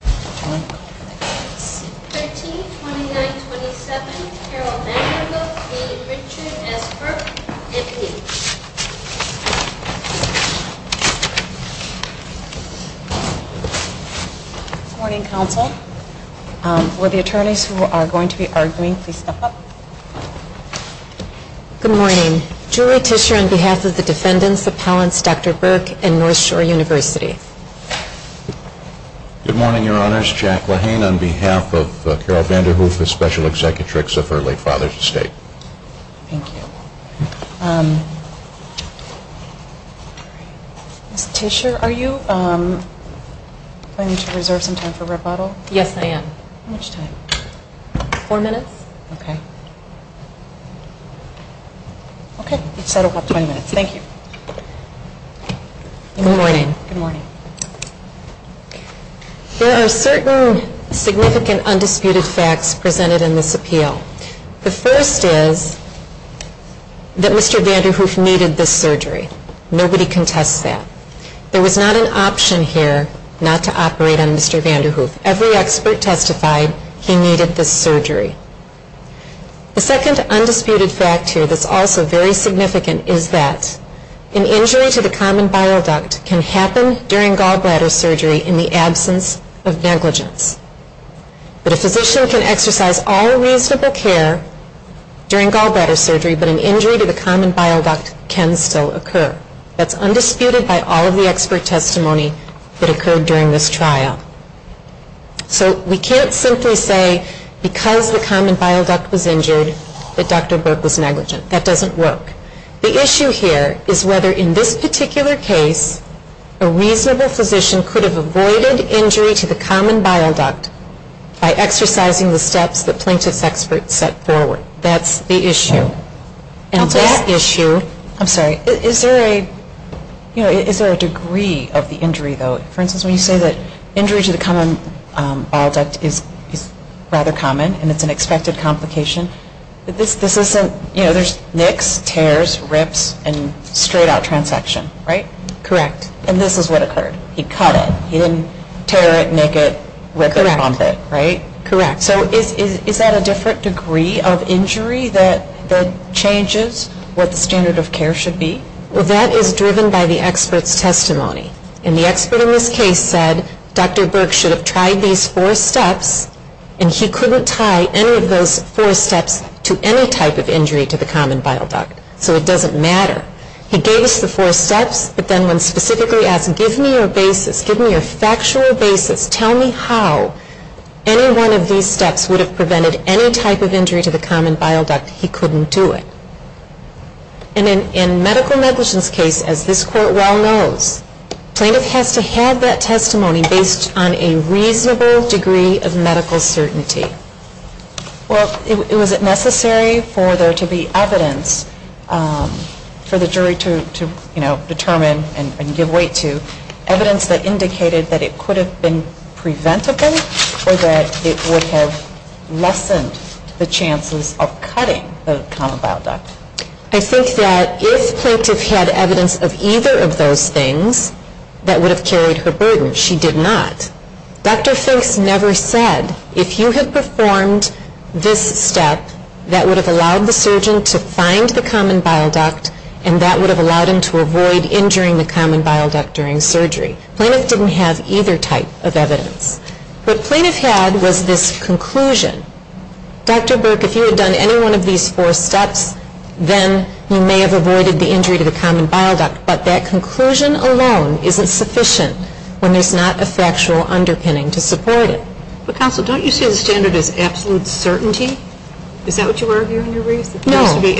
Good morning counsel. For the attorneys who are going to be arguing, please step up. Good morning. Jury Tischer on behalf of the defendants, the appellants, Dr. Berk and North Lehane on behalf of Carol Vanderhoof, the special executrix of her late father's estate. Thank you. Ms. Tischer, are you going to reserve some time for rebuttal? Yes, I am. How much time? Four minutes. Okay. Each side will have 20 minutes. Thank you. Good morning. There are certain significant undisputed facts presented in this appeal. The first is that Mr. Vanderhoof needed this surgery. Nobody contests that. There was not an option here not to operate on Mr. Vanderhoof. Every expert testified he needed this surgery. The second undisputed fact here that's also very significant is that an injury to the common bile duct can happen during gallbladder surgery in the absence of negligence. But a physician can exercise all reasonable care during gallbladder surgery, but an injury to the common bile duct can still occur. That's undisputed by all of the expert testimony during this trial. So we can't simply say because the common bile duct was injured that Dr. Burke was negligent. That doesn't work. The issue here is whether in this particular case a reasonable physician could have avoided injury to the common bile duct by exercising the steps that plaintiff's experts set forward. That's the issue. And that issue I'm sorry. Is there a, you know, is there a degree of the injury, though? For instance, when you say that injury to the common bile duct is rather common and it's an expected complication, this isn't, you know, there's nicks, tears, rips, and straight-out transfection, right? Correct. And this is what occurred. He cut it. He didn't tear it, nick it, rip it, bump it. Correct. Right? Correct. So is that a different degree of injury that changes what the standard of care should be? Well, that is driven by the expert's testimony. And the expert in this case said Dr. Burke should have tried these four steps and he couldn't tie any of those four steps to any type of injury to the common bile duct. So it doesn't matter. He gave us the four steps, but then when specifically asked give me your basis, give me your factual basis, tell me how any one of these steps would have prevented any type of injury to the common bile duct, he couldn't do it. And in medical negligence case, as this court well knows, plaintiff has to have that testimony based on a reasonable degree of medical certainty. Well, was it necessary for there to be evidence for the jury to, you know, determine and give weight to evidence that indicated that it could have been preventable or that it would have lessened the chances of cutting the common bile duct? I think that if plaintiff had evidence of either of those things, that would have carried her burden. She did not. Dr. Fink's never said if you had performed this step, that would have allowed the surgeon to find the common bile duct and that would have prevented injury to the common bile duct during surgery. Plaintiff didn't have either type of evidence. What plaintiff had was this conclusion. Dr. Burke, if you had done any one of these four steps, then you may have avoided the injury to the common bile duct, but that conclusion alone isn't sufficient when there's not a factual underpinning to support it. But counsel, don't you see the standard as absolute certainty? Is that what you mean? Right. A reasonable degree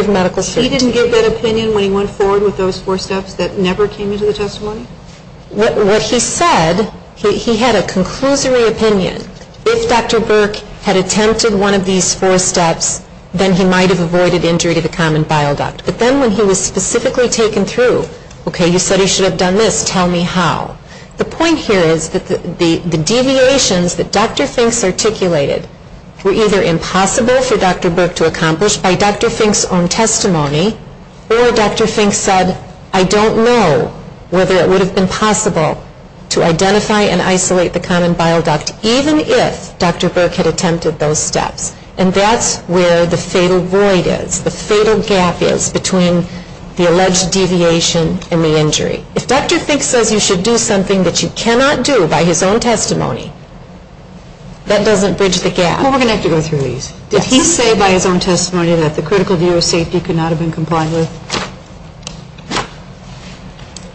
of medical certainty. He didn't give that opinion when he went forward with those four steps that never came into the testimony? What he said, he had a conclusory opinion. If Dr. Burke had attempted one of these four steps, then he might have avoided injury to the common bile duct. But then when he was specifically taken through, okay, you said he should have done this, tell me how. The point here is that the deviations that Dr. Fink articulated were either impossible for Dr. Burke to accomplish by Dr. Fink's own testimony or Dr. Fink said, I don't know whether it would have been possible to identify and isolate the common bile duct even if Dr. Burke had attempted those steps. And that's where the fatal void is, the fatal gap is between the alleged deviation and the injury. If Dr. Fink says you should do something that you cannot do by his own testimony, that doesn't bridge the gap. We're going to have to go through these. Did he say by his own testimony that the critical view of safety could not have been complied with?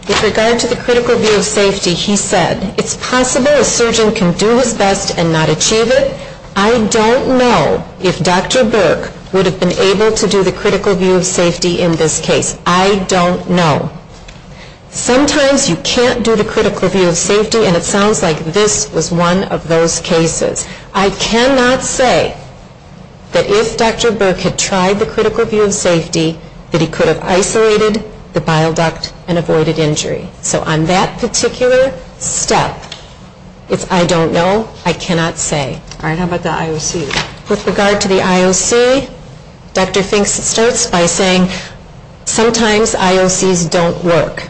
With regard to the critical view of safety, he said, it's possible a surgeon can do his best and not achieve it. I don't know if Dr. Burke would have been able to do the critical view of safety in this case. I don't know. Sometimes you can't do the critical view of safety and it sounds like this was one of those cases. I cannot say that if Dr. Burke had tried the critical view of safety that he could have isolated the bile duct and avoided injury. So on that particular step, it's I don't know, I cannot say. All right. How about the IOC? With regard to the IOC, Dr. Fink starts by saying sometimes IOCs don't work.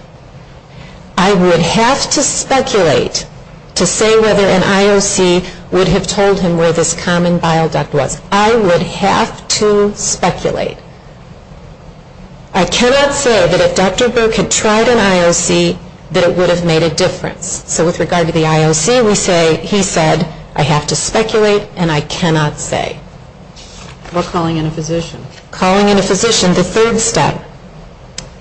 I would have to speculate to say whether an IOC would have told him where this common bile duct was. I would have to speculate. I cannot say that if Dr. Burke had tried an IOC that it would have made a difference. So with regard to the IOC, he said, I have to speculate and I We're calling in a physician. Calling in a physician, the third step.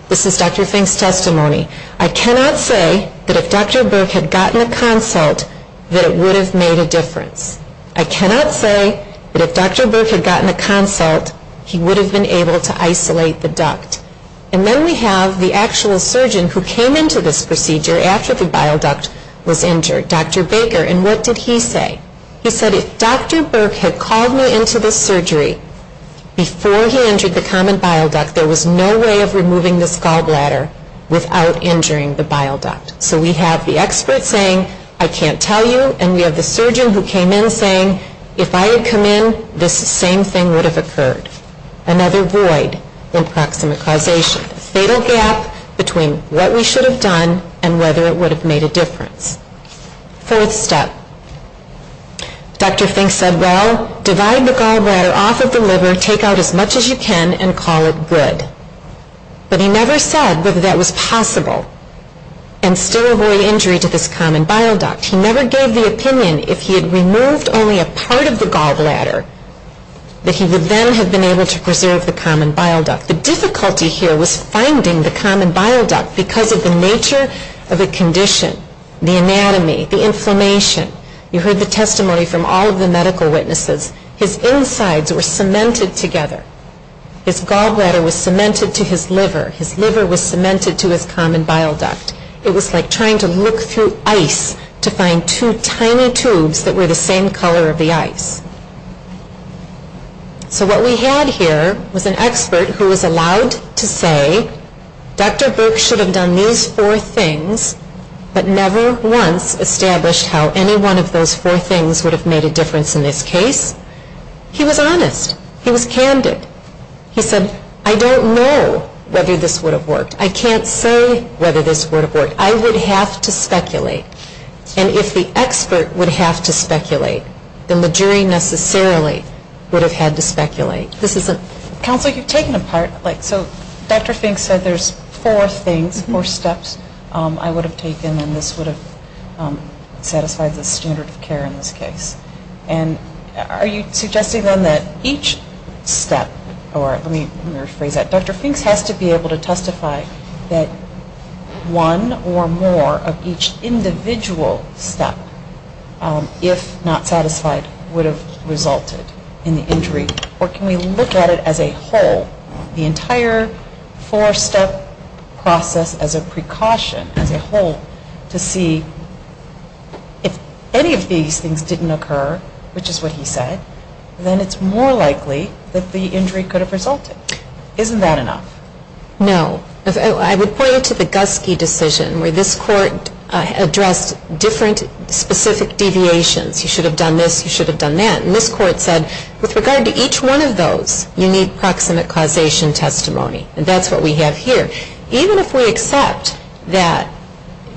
This is Dr. Fink's testimony. I cannot say that if Dr. Burke had gotten a consult that it would have made a difference. I cannot say that if Dr. Burke had gotten a consult he would have been able to isolate the duct. And then we have the actual surgeon who came into this procedure after the bile duct was injured, Dr. Baker. And what did he say? He said, if Dr. Burke had called me into this surgery before he injured the common bile duct, there was no way of removing this gallbladder without injuring the bile duct. So we have the expert saying, I can't tell you. And we have the surgeon who came in saying, if I had come in, this same thing would have occurred. Another void in proximate causation. A fatal gap between what we should have done and whether it would have made a difference. Fourth step. Dr. Fink said, well, divide the gallbladder off of the liver, take out as much as you can, and call it good. But he never said whether that was possible and still avoid injury to this common bile duct. He never gave the opinion if he had removed only a part of the gallbladder that he would then have been able to preserve the common bile duct. The difficulty here was finding the common bile duct because of the nature of the condition, the anatomy, the inflammation. You heard the testimony from all of the medical witnesses. His insides were cemented together. His gallbladder was cemented to his liver. His liver was cemented to his common bile duct. It was like trying to look through ice to find two tiny tubes that were the same color of the ice. So what we had here was an expert who was allowed to say, Dr. Burke should have done these four things, but never once established how any one of those four things would have made a difference in this case. He was honest. He was candid. He said, I don't know whether this would have worked. I can't say whether this would have worked. I would have to speculate. And if the expert would have to speculate, then the jury necessarily would have had to speculate. This is a ‑‑ So Dr. Fink said there's four things, four steps I would have taken and this would have satisfied the standard of care in this case. And are you suggesting then that each step, or let me rephrase that, Dr. Fink has to be able to testify that one or more of each individual step, if not whole, the entire four‑step process as a precaution, as a whole, to see if any of these things didn't occur, which is what he said, then it's more likely that the injury could have resulted. Isn't that enough? No. I would point you to the Guske decision where this court addressed different specific deviations. You should have done this, you should have done that. And this court said with regard to each one of those, you need proximate causation testimony. And that's what we have here. Even if we accept that,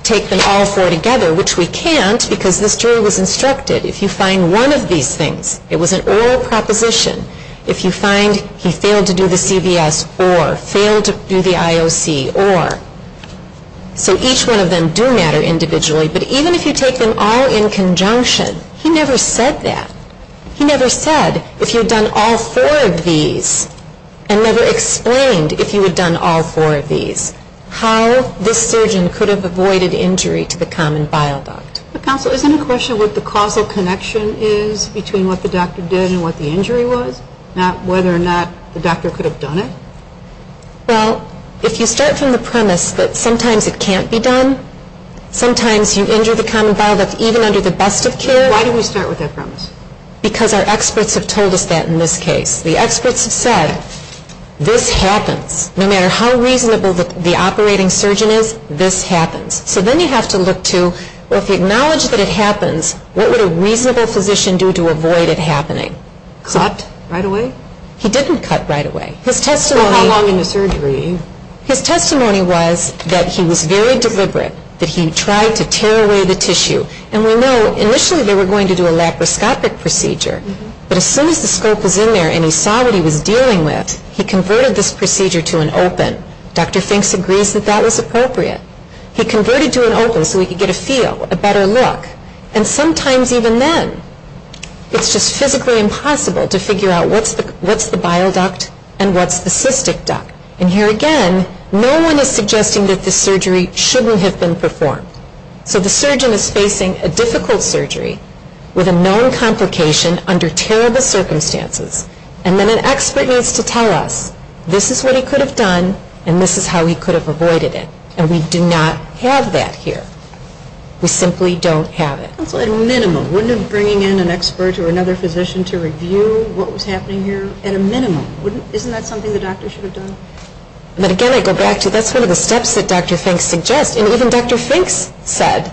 take them all four together, which we can't because this jury was instructed, if you find one of these things, it was an oral proposition, if you find he failed to do the CVS or failed to do the IOC or, so each one of them do matter individually, but even if you take them all in conjunction, he never said that. He never said if you had done all four of these and never explained if you had done all four of these, how this surgeon could have avoided injury to the common bile duct. Counsel, isn't it a question of what the causal connection is between what the doctor did and what the injury was, not whether or not the doctor could have done it? Well, if you start from the premise that sometimes it can't be done, sometimes you injure the common bile duct even under the best of care. Why do we start with that premise? Because our experts have told us that in this case. The experts have said, this happens. No matter how reasonable the operating surgeon is, this happens. So then you have to look to, well, if you acknowledge that it happens, what would a reasonable physician do to avoid it happening? Cut right away? He didn't cut right away. His testimony How long in the surgery? His testimony was that he was very deliberate, that he tried to tear away the tissue. And we know initially they were going to do a laparoscopic procedure. But as soon as the scope was in there and he saw what he was dealing with, he converted this procedure to an open. Dr. Fink agrees that that was appropriate. He converted to an open so he could get a feel, a better look. And sometimes even then, it's just physically impossible to figure out what's the bile duct and what's the And here again, no one is suggesting that this surgery shouldn't have been performed. So the surgeon is facing a difficult surgery with a known complication under terrible circumstances. And then an expert needs to tell us, this is what he could have done and this is how he could have avoided it. And we do not have that here. We simply don't have it. So at a minimum, wouldn't bringing in an expert or another physician to review what was happening here, at a minimum, isn't that something the doctor should have done? But again, I go back to that's one of the steps that Dr. Fink suggests. And even Dr. Fink said,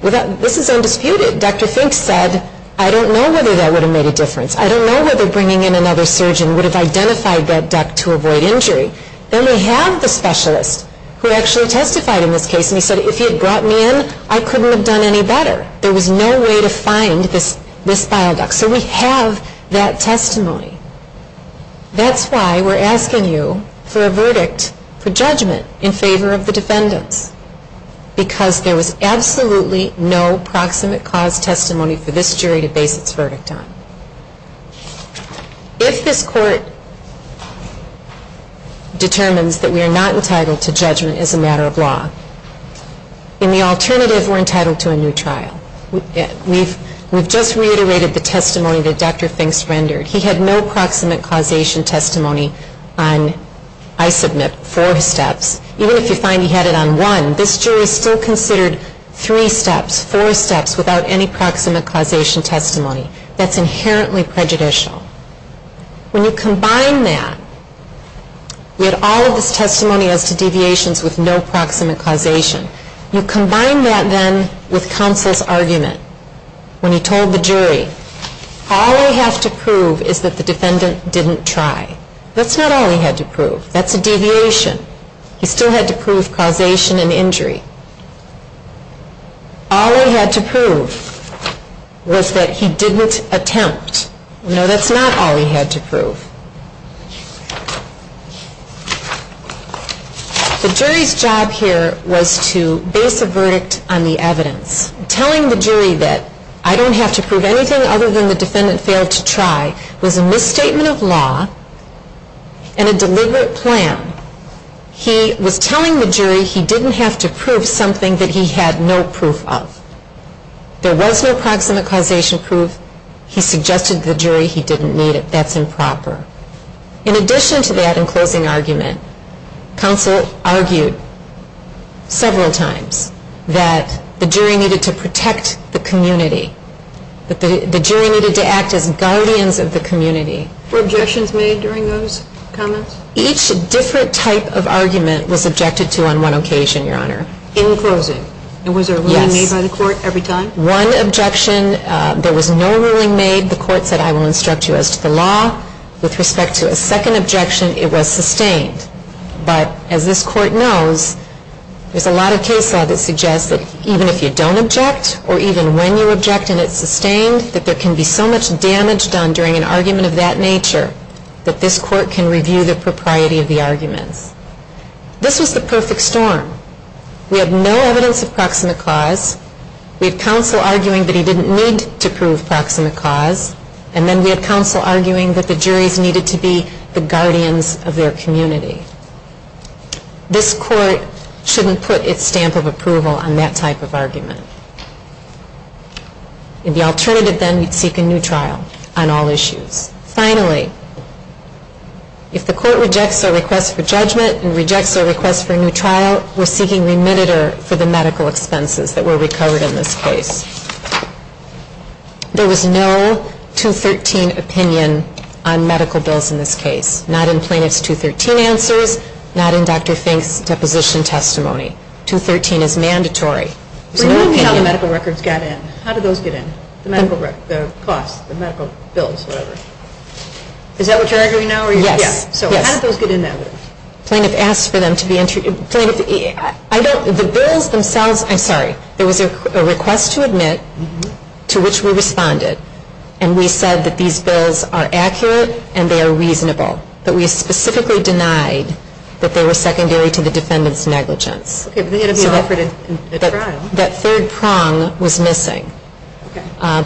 this is undisputed, Dr. Fink said, I don't know whether that would have made a difference. I don't know whether bringing in another surgeon would have identified that duct to avoid injury. Then we have the specialist who actually testified in this case and he said, if he had brought me in, I couldn't have done any better. There was no way to find this bile duct. So we have that testimony. That's why we are asking you for a verdict for judgment in favor of the defendants. Because there was absolutely no proximate cause testimony for this jury to base its verdict on. If this court determines that we are not entitled to judgment as a matter of law, in the alternative we are entitled to a new trial. We have just reiterated the testimony that Dr. Fink rendered. He had no proximate causation testimony on, I submit, four steps. Even if you find he had it on one, this jury still considered three steps, four steps without any proximate causation testimony. That's inherently prejudicial. When you combine that, we had all of this testimony as to deviations with no proximate causation. You combine that then with counsel's argument. When he told the jury, all I have to prove is that the defendant didn't try. That's not all he had to prove. That's a deviation. He still had to prove causation and injury. All he had to prove was that he didn't attempt. No, that's not all he had to prove. The jury's job here was to base a verdict on the evidence. Telling the jury that I don't have to prove anything other than the defendant failed to try was a misstatement of law and a deliberate plan. He was telling the jury he didn't have to prove something that he had no proof of. There was no proximate causation proof. He suggested to the jury he didn't need it. That's improper. In addition to that, in closing argument, counsel argued several times that the jury needed to protect the community, that the jury needed to act as guardians of the community. Were objections made during those comments? Each different type of argument was objected to on one occasion, Your Honor. In closing? Yes. And was there a ruling made by the court every time? One objection, there was no ruling made. The court said I will instruct you as to the law. With respect to a second objection, it was sustained. But as this court knows, there's a lot of case law that suggests that even if you don't object or even when you object and it's sustained, that there can be so much damage done during an argument of that nature that this court can review the propriety of the arguments. This was the perfect storm. We had no evidence of proximate cause. We had counsel arguing that he didn't need to prove proximate cause. And then we had counsel arguing that the juries needed to be the guardians of their community. This court shouldn't put its stamp of approval on that type of argument. In the alternative, then, we'd seek a new trial on all issues. Finally, if the court rejects our request for judgment and rejects our request for a new trial, we're seeking remitted for the medical expenses that were recovered in this case. There was no 213 opinion on medical bills in this case, not in plaintiff's 213 answers, not in Dr. Fink's deposition testimony. 213 is mandatory. But no opinion on medical records got in. How did those get in? The medical records, the costs, the medical bills, whatever. Is that what you're arguing now? Yes. So how did those get in now? Plaintiff asked for them to be interviewed. Plaintiff, I don't, the bills themselves, I'm sorry, there was a request to admit to which we responded. And we said that these bills are accurate and they are reasonable. But we specifically denied that they were secondary to the defendant's negligence. That third prong was missing.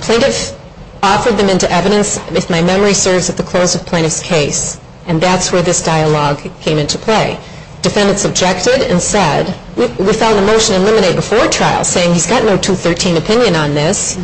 Plaintiff offered them into evidence, if my memory serves, at the close of plaintiff's case. And that's where this dialogue came into play. Defendants objected and said, we found the motion eliminate before trial saying he's got no 213 opinion on this.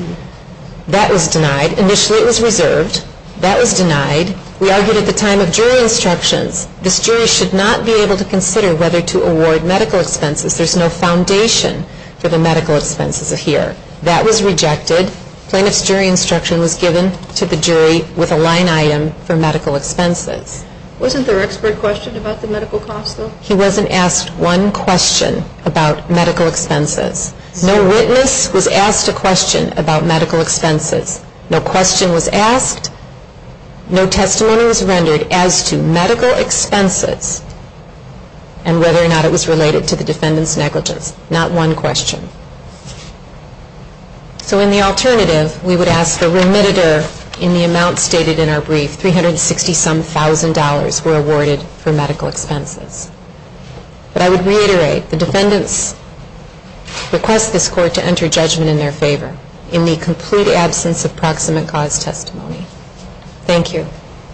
That was denied. Initially it was reserved. That was denied. We argued at the time of jury instructions. This jury should not be able to consider whether to award medical expenses. There's no foundation for the medical expenses here. That was rejected. Plaintiff's jury instruction was given to the jury with a line item for medical expenses. Wasn't there an expert question about the medical costs, though? He wasn't asked one question about medical expenses. No witness was asked a question about medical expenses. No question was asked. No testimony was rendered as to medical expenses and whether or not it was related to the defendant's negligence. Not one question. So in the alternative, we would ask the remitter in the amount stated in our brief, 360-some thousand dollars were awarded for medical expenses. But I would reiterate, the defendants request this court to enter judgment in their favor in the complete absence of proximate cause testimony. Thank you.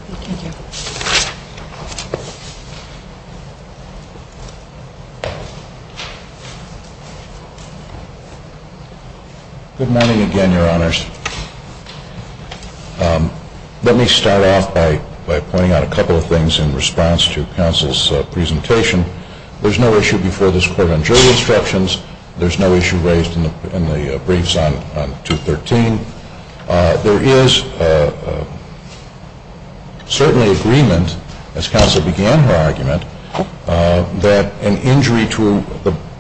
Thank you. Good morning again, Your Honors. Let me start off by pointing out a couple of things in response to counsel's presentation. There's no issue before this court on jury instructions. There's no issue raised in the briefs on 213. There is certainly agreement, as counsel began her argument, that an injury to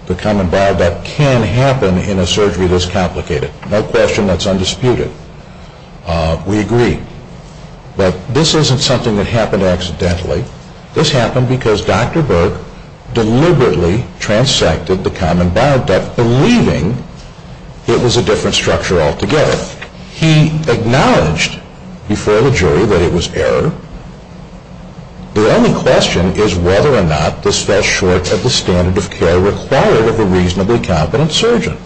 the common barred neck can happen in a surgery this complicated. No question that's undisputed. We agree. But this isn't something that happened accidentally. This happened because Dr. Burke deliberately transected the common barred it was a different structure altogether. He acknowledged before the jury that it was error. The only question is whether or not this fell short of the standard of care required of a reasonably competent surgeon.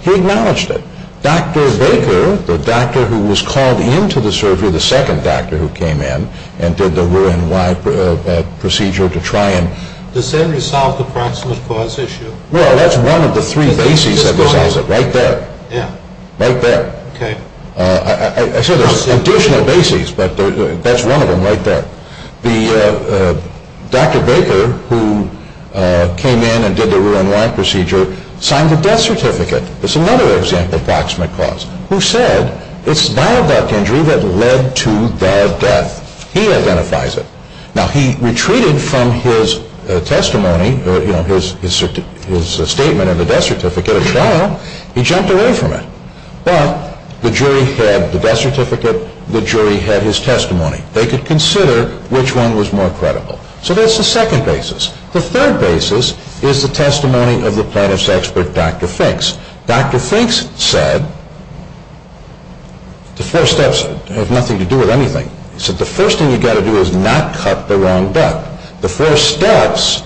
He acknowledged it. Dr. Baker, the doctor who was called in to the surgery, the second doctor who came in and did the Ruan Y procedure to try and Does that resolve the proximate cause issue? Well, that's one of the three bases that resolves it. Right there. Yeah. Right there. Okay. I said there's additional bases, but that's one of them right there. Dr. Baker, who came in and did the Ruan Y procedure, signed the death certificate. It's another example of proximate cause. Who said it's dial duct injury that led to the death. He identifies it. Now, he retreated from his testimony or his statement of the death certificate at trial. He jumped away from it. Well, the jury had the death certificate. The jury had his testimony. They could consider which one was more credible. So that's the second basis. The third basis is the testimony of the plaintiff's expert, Dr. Finks. Dr. Finks said the four steps have nothing to do with anything. He said the first thing you've got to do is not cut the wrong duct. The four steps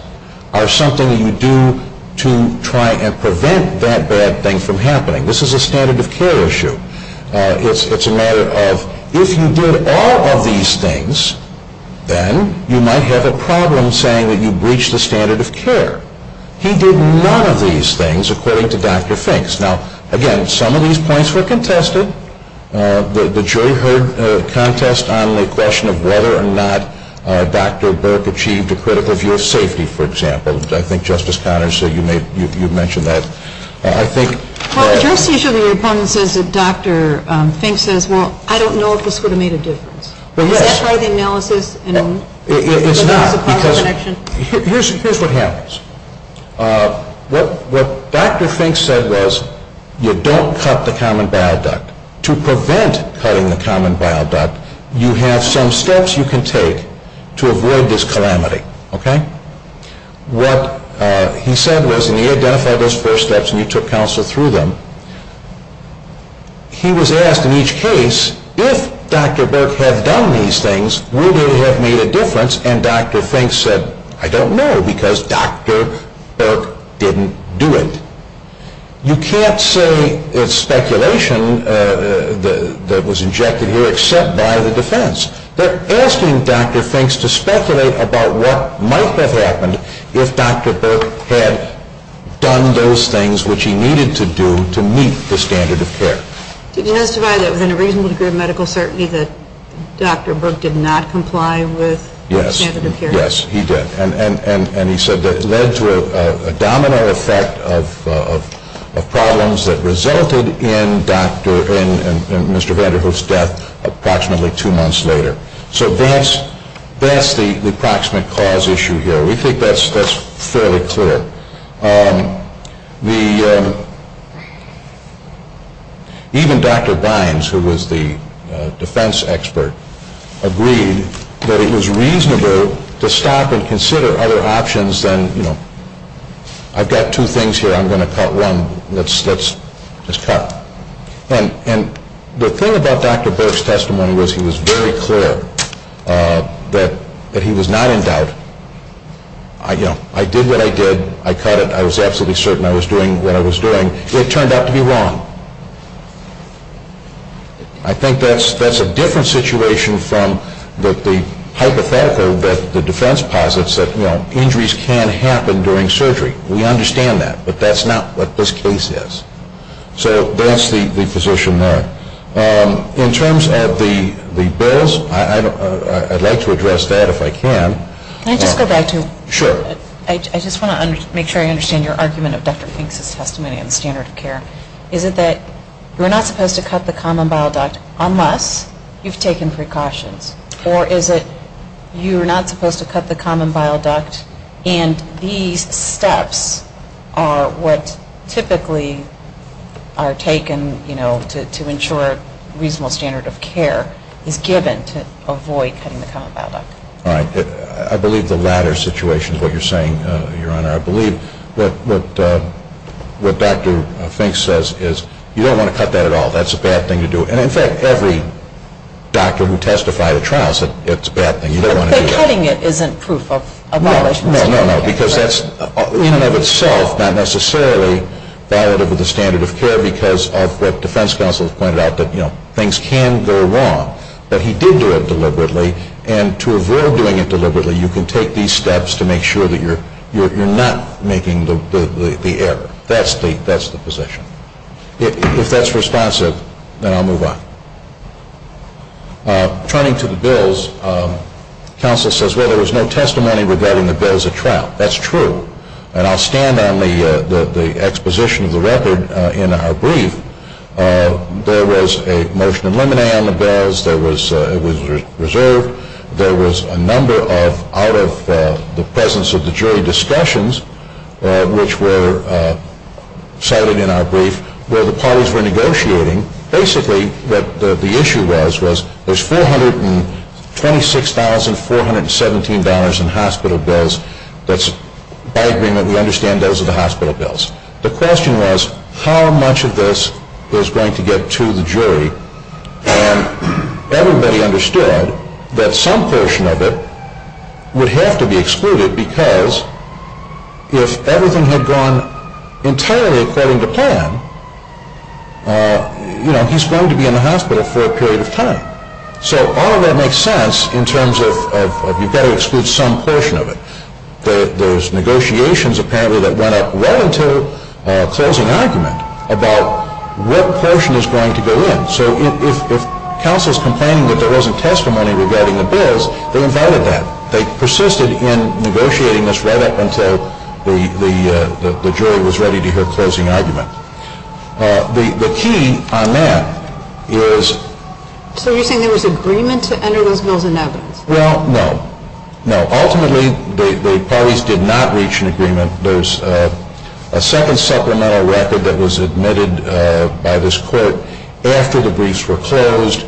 are something that you do to try and prevent that bad thing from happening. This is a standard of care issue. It's a matter of if you did all of these things, then you might have a problem saying that you breached the standard of care. He did none of these things, according to Dr. Finks. Now, again, some of these points were contested. The jury heard a contest on the question of whether or not Dr. Burke achieved a critical view of safety, for example. I think, Justice Connors, you mentioned that. I think – Well, just as your opponent says that Dr. Finks says, well, I don't know if this would have made a difference. Is that part of the analysis? It's not. Here's what happens. What Dr. Finks said was you don't cut the common bile duct. To prevent cutting the common bile duct, you have some steps you can take to avoid this calamity. What he said was – and he identified those first steps and he took counsel through them. He was asked in each case, if Dr. Burke had done these things, would it have made a difference? And Dr. Finks said, I don't know because Dr. Burke didn't do it. You can't say it's speculation that was injected here except by the defense. They're asking Dr. Finks to speculate about what might have happened if Dr. Burke had done those things which he needed to do to meet the standard of care. Did he testify that within a reasonable degree of medical certainty that Dr. Burke did not comply with standard of care? Yes, he did. And he said that it led to a domino effect of problems that resulted in Mr. Vanderhoof's death approximately two months later. So that's the approximate cause issue here. We think that's fairly clear. Even Dr. Bynes, who was the defense expert, agreed that it was reasonable to stop and consider other options than, you know, I've got two things here, I'm going to cut one. Let's cut. And the thing about Dr. Burke's testimony was he was very clear that he was not in doubt. You know, I did what I did. I cut it. I was absolutely certain I was doing what I was doing. It turned out to be wrong. I think that's a different situation from the hypothetical that the defense posits that, you know, injuries can happen during surgery. We understand that. But that's not what this case is. So that's the position there. In terms of the bills, I'd like to address that if I can. Can I just go back to? Sure. I just want to make sure I understand your argument of Dr. Fink's testimony on the standard of care. Is it that you're not supposed to cut the common bile duct unless you've taken precautions? Or is it you're not supposed to cut the common bile duct and these steps are what typically are taken, you know, to ensure a reasonable standard of care is given to avoid cutting the common bile duct? All right. I believe the latter situation is what you're saying, Your Honor. I believe what Dr. Fink says is you don't want to cut that at all. That's a bad thing to do. And, in fact, every doctor who testified at trials said it's a bad thing. You don't want to do that. But cutting it isn't proof of abolishment. No, no, no, because that's in and of itself not necessarily valid of the standard of care because of what defense counsels pointed out that, you know, things can go wrong. But he did do it deliberately. And to avoid doing it deliberately, you can take these steps to make sure that you're not making the error. That's the position. If that's responsive, then I'll move on. Turning to the bills, counsel says, well, there was no testimony regarding the bills at trial. That's true. And I'll stand on the exposition of the record in our brief. There was a motion of limine on the bills. It was reserved. There was a number of out-of-the-presence-of-the-jury discussions, which were cited in our brief, where the parties were negotiating basically what the issue was, was there's $426,417 in hospital bills that's, by agreement, we understand those are the hospital bills. The question was how much of this is going to get to the jury. And everybody understood that some portion of it would have to be excluded because if everything had gone entirely according to plan, you know, he's going to be in the hospital for a period of time. So all of that makes sense in terms of you've got to exclude some portion of it. There's negotiations, apparently, that went up right until closing argument about what portion is going to go in. So if counsel is complaining that there wasn't testimony regarding the bills, they invited that. They persisted in negotiating this right up until the jury was ready to hear closing argument. The key on that is… So you're saying there was agreement to enter those bills in evidence? Well, no. Ultimately, the parties did not reach an agreement. There's a second supplemental record that was admitted by this court after the briefs were closed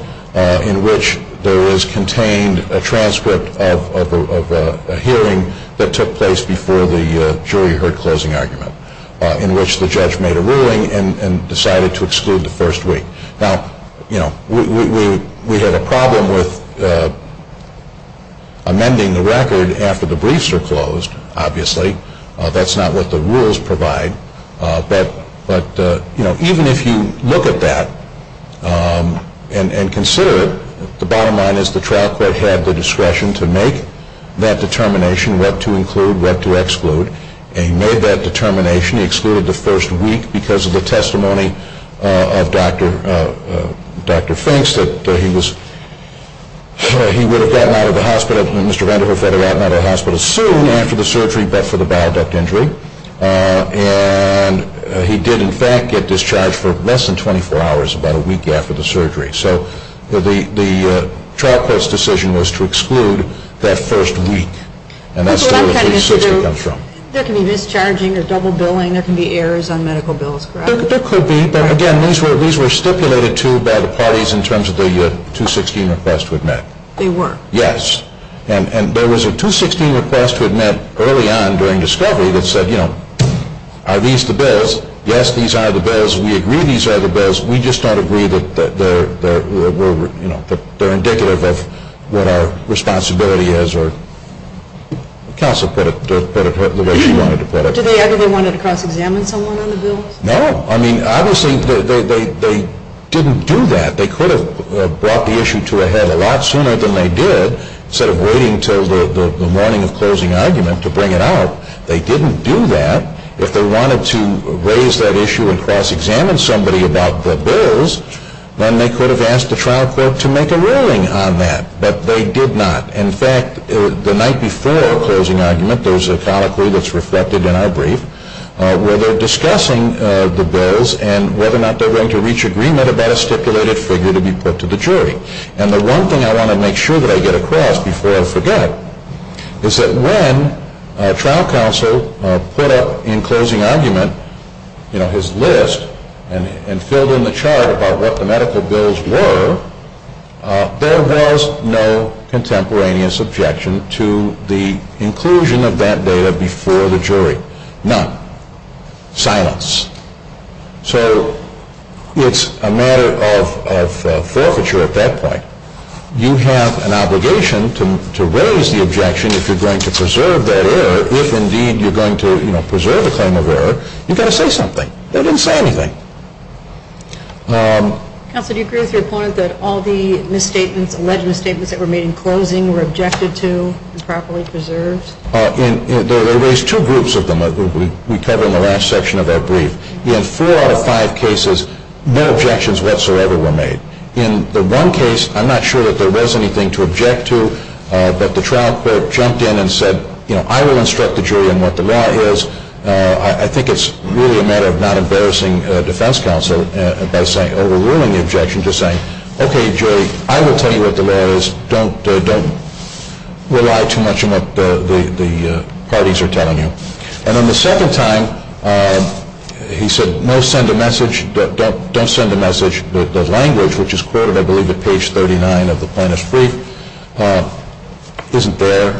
in which there is contained a transcript of a hearing that took place before the jury heard closing argument in which the judge made a ruling and decided to exclude the first week. Now, you know, we had a problem with amending the record after the briefs were closed, obviously. That's not what the rules provide. But, you know, even if you look at that and consider it, the bottom line is the trial court had the discretion to make that determination what to include, what to exclude. And he made that determination. He excluded the first week because of the testimony of Dr. Finks that he would have gotten out of the hospital, Mr. Vandiver would have gotten out of the hospital soon after the surgery but for the baroduct injury. And he did, in fact, get discharged for less than 24 hours about a week after the surgery. So the trial court's decision was to exclude that first week. And that's where the 260 comes from. There can be mischarging or double billing. There can be errors on medical bills, correct? There could be. But, again, these were stipulated to by the parties in terms of the 216 request to admit. They were. Yes. And there was a 216 request to admit early on during discovery that said, you know, are these the bills? Yes, these are the bills. We agree these are the bills. We just don't agree that they're indicative of what our responsibility is or counsel put it the way she wanted to put it. Did they ever want to cross-examine someone on the bill? No. I mean, obviously, they didn't do that. They could have brought the issue to a head a lot sooner than they did. Instead of waiting until the morning of closing argument to bring it out, they didn't do that. If they wanted to raise that issue and cross-examine somebody about the bills, then they could have asked the trial court to make a ruling on that. But they did not. In fact, the night before closing argument, there's a colloquy that's reflected in our brief where they're discussing the bills and whether or not they're going to reach agreement about a stipulated figure to be put to the jury. And the one thing I want to make sure that I get across before I forget is that when trial counsel put up in closing argument his list and filled in the chart about what the medical bills were, there was no contemporaneous objection to the inclusion of that data before the jury. None. Silence. So it's a matter of forfeiture at that point. You have an obligation to raise the objection if you're going to preserve that error. If, indeed, you're going to preserve the claim of error, you've got to say something. They didn't say anything. Counsel, do you agree with your point that all the alleged misstatements that were made in closing were objected to and properly preserved? They raised two groups of them that we covered in the last section of our brief. In four out of five cases, no objections whatsoever were made. In the one case, I'm not sure that there was anything to object to, but the trial court jumped in and said, I will instruct the jury on what the law is. I think it's really a matter of not embarrassing defense counsel by overruling the objection, just saying, okay, jury, I will tell you what the law is. Don't rely too much on what the parties are telling you. And on the second time, he said, no, send a message. Don't send a message. The language, which is quoted, I believe, at page 39 of the plaintiff's brief, isn't there.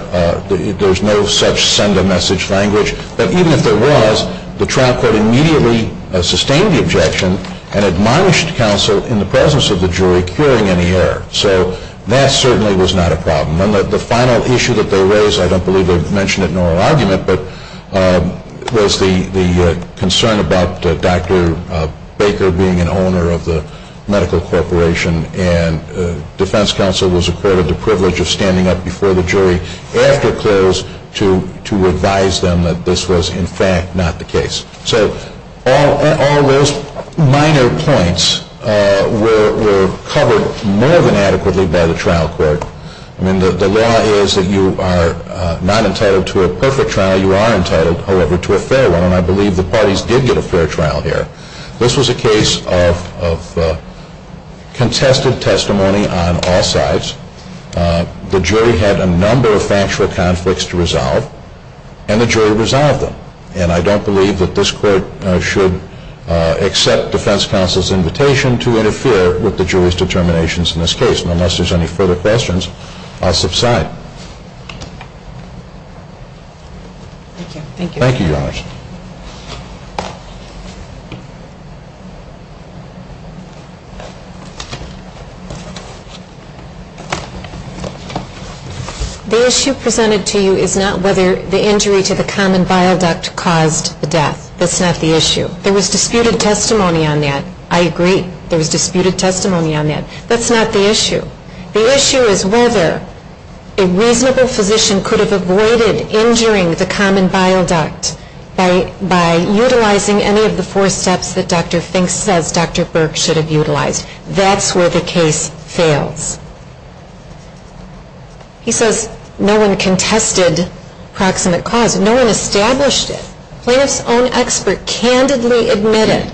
There's no such send-a-message language. But even if there was, the trial court immediately sustained the objection and admonished counsel in the presence of the jury, curing any error. So that certainly was not a problem. And the final issue that they raised, I don't believe they mentioned it in oral argument, but was the concern about Dr. Baker being an owner of the medical corporation and defense counsel was accorded the privilege of standing up before the jury after close to advise them that this was, in fact, not the case. So all those minor points were covered more than adequately by the trial court. I mean, the law is that you are not entitled to a perfect trial. You are entitled, however, to a fair one. And I believe the parties did get a fair trial here. This was a case of contested testimony on all sides. The jury had a number of factual conflicts to resolve, and the jury resolved them. And I don't believe that this court should accept defense counsel's invitation to interfere with the jury's determinations in this case. And unless there's any further questions, I'll subside. Thank you. Thank you. Thank you, Your Honor. The issue presented to you is not whether the injury to the common bile duct caused the death. That's not the issue. There was disputed testimony on that. I agree. There was disputed testimony on that. A reasonable physician could have avoided injuring the common bile duct by utilizing any of the four steps that Dr. Fink says Dr. Burke should have utilized. That's where the case fails. He says no one contested proximate cause. No one established it. Plaintiff's own expert candidly admitted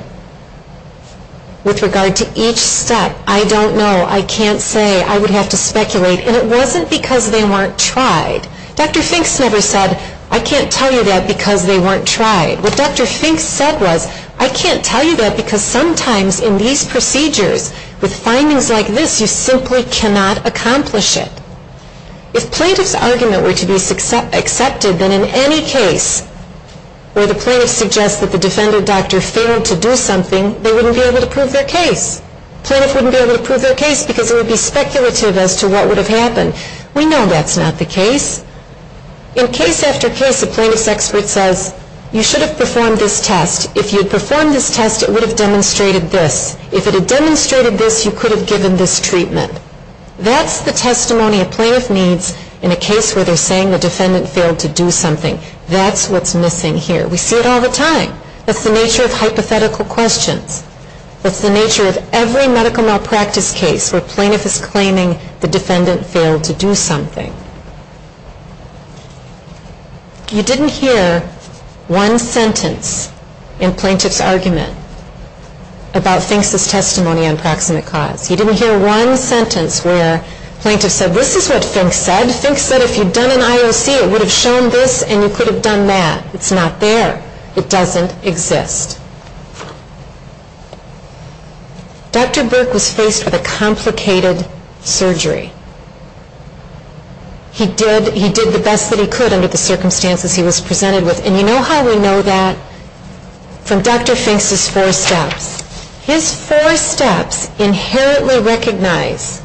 with regard to each step, I don't know. I can't say. I would have to speculate. And it wasn't because they weren't tried. Dr. Fink never said, I can't tell you that because they weren't tried. What Dr. Fink said was, I can't tell you that because sometimes in these procedures with findings like this, you simply cannot accomplish it. If plaintiff's argument were to be accepted, then in any case where the plaintiff suggests that the defendant doctor failed to do something, they wouldn't be able to prove their case. Plaintiff wouldn't be able to prove their case because it would be speculative as to what would have happened. We know that's not the case. In case after case, a plaintiff's expert says, you should have performed this test. If you had performed this test, it would have demonstrated this. If it had demonstrated this, you could have given this treatment. That's the testimony a plaintiff needs in a case where they're saying the defendant failed to do something. That's what's missing here. We see it all the time. That's the nature of hypothetical questions. That's the nature of every medical malpractice case where plaintiff is claiming the defendant failed to do something. You didn't hear one sentence in plaintiff's argument about Fink's testimony on proximate cause. You didn't hear one sentence where plaintiff said, this is what Fink said. Fink said if you'd done an IOC, it would have shown this and you could have done that. It's not there. It doesn't exist. Dr. Burke was faced with a complicated surgery. He did the best that he could under the circumstances he was presented with. And you know how we know that? From Dr. Fink's four steps. His four steps inherently recognize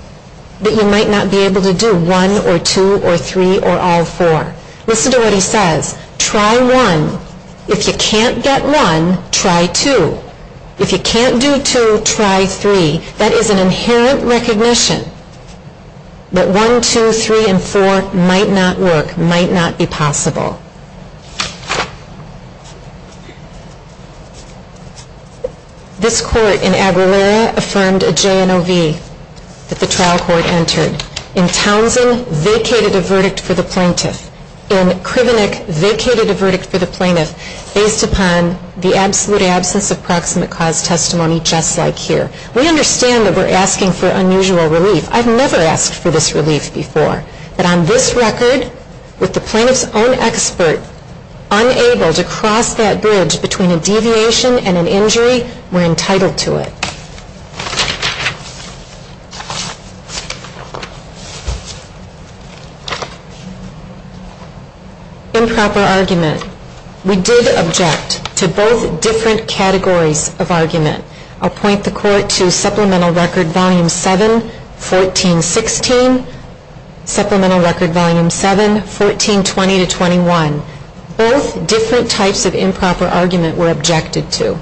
that you might not be able to do one or two or three or all four. Listen to what he says. Try one. If you can't get one, try two. If you can't do two, try three. That is an inherent recognition that one, two, three, and four might not work, might not be possible. This court in Aguilera affirmed a JNOV that the trial court entered. In Townsend, vacated a verdict for the plaintiff. In Krivenick, vacated a verdict for the plaintiff based upon the absolute absence of proximate cause testimony just like here. We understand that we're asking for unusual relief. I've never asked for this relief before. But on this record, with the plaintiff's own expert unable to cross that bridge between a deviation and an injury, we're entitled to it. Improper argument. We did object to both different categories of argument. I'll point the court to Supplemental Record Volume 7, 1416, Supplemental Record Volume 7, 1420-21. Both different types of improper argument were objected to.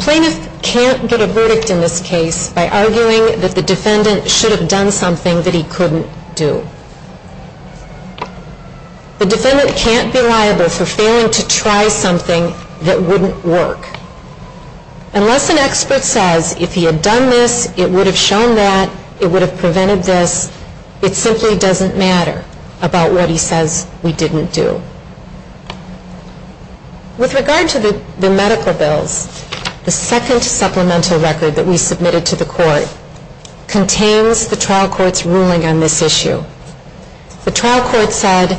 Plaintiff can't get a verdict in this case by arguing that the defendant should have done something that he couldn't do. The defendant can't be liable for failing to try something that wouldn't work. Unless an expert says if he had done this, it would have shown that, it would have prevented this, it simply doesn't matter about what he says we didn't do. With regard to the medical bills, the second Supplemental Record that we submitted to the court contains the trial court's ruling on this issue. The trial court said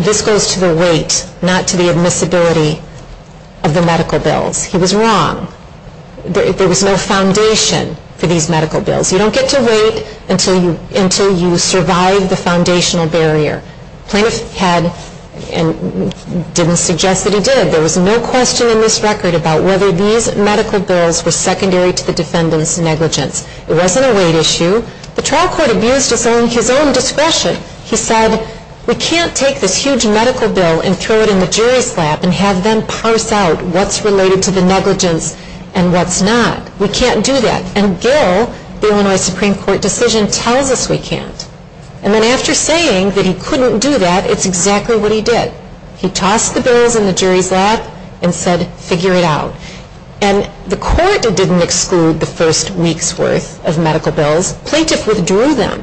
this goes to the weight, not to the admissibility of the medical bills. He was wrong. There was no foundation for these medical bills. You don't get to weight until you survive the foundational barrier. Plaintiff had, and didn't suggest that he did, there was no question in this record about whether these medical bills were secondary to the defendant's negligence. It wasn't a weight issue. The trial court abused his own discretion. He said, we can't take this huge medical bill and throw it in the jury's lap and have them parse out what's related to the negligence and what's not. We can't do that. And Gill, the Illinois Supreme Court decision, tells us we can't. And then after saying that he couldn't do that, it's exactly what he did. He tossed the bills in the jury's lap and said, figure it out. And the court didn't exclude the first week's worth of medical bills. Plaintiff withdrew them.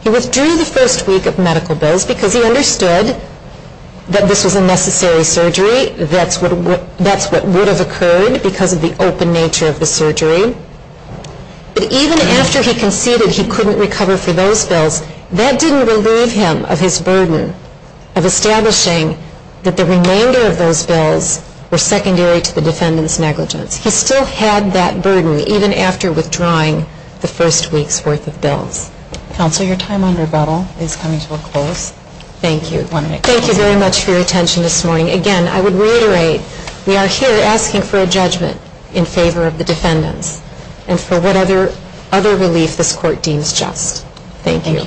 He withdrew the first week of medical bills because he understood that this was a necessary surgery. That's what would have occurred because of the open nature of the surgery. But even after he conceded he couldn't recover for those bills, that didn't relieve him of his burden of establishing that the remainder of those bills were secondary to the defendant's negligence. He still had that burden even after withdrawing the first week's worth of bills. Counsel, your time on rebuttal is coming to a close. Thank you. Thank you very much for your attention this morning. Again, I would reiterate, we are here asking for a judgment in favor of the defendants and for whatever other relief this court deems just. Thank you.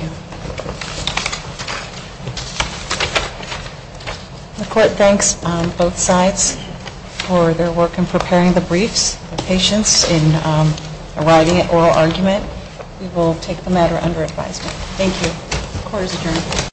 The court thanks both sides for their work in preparing the briefs, their patience in arriving at oral argument. We will take the matter under advisement. Thank you. The court is adjourned.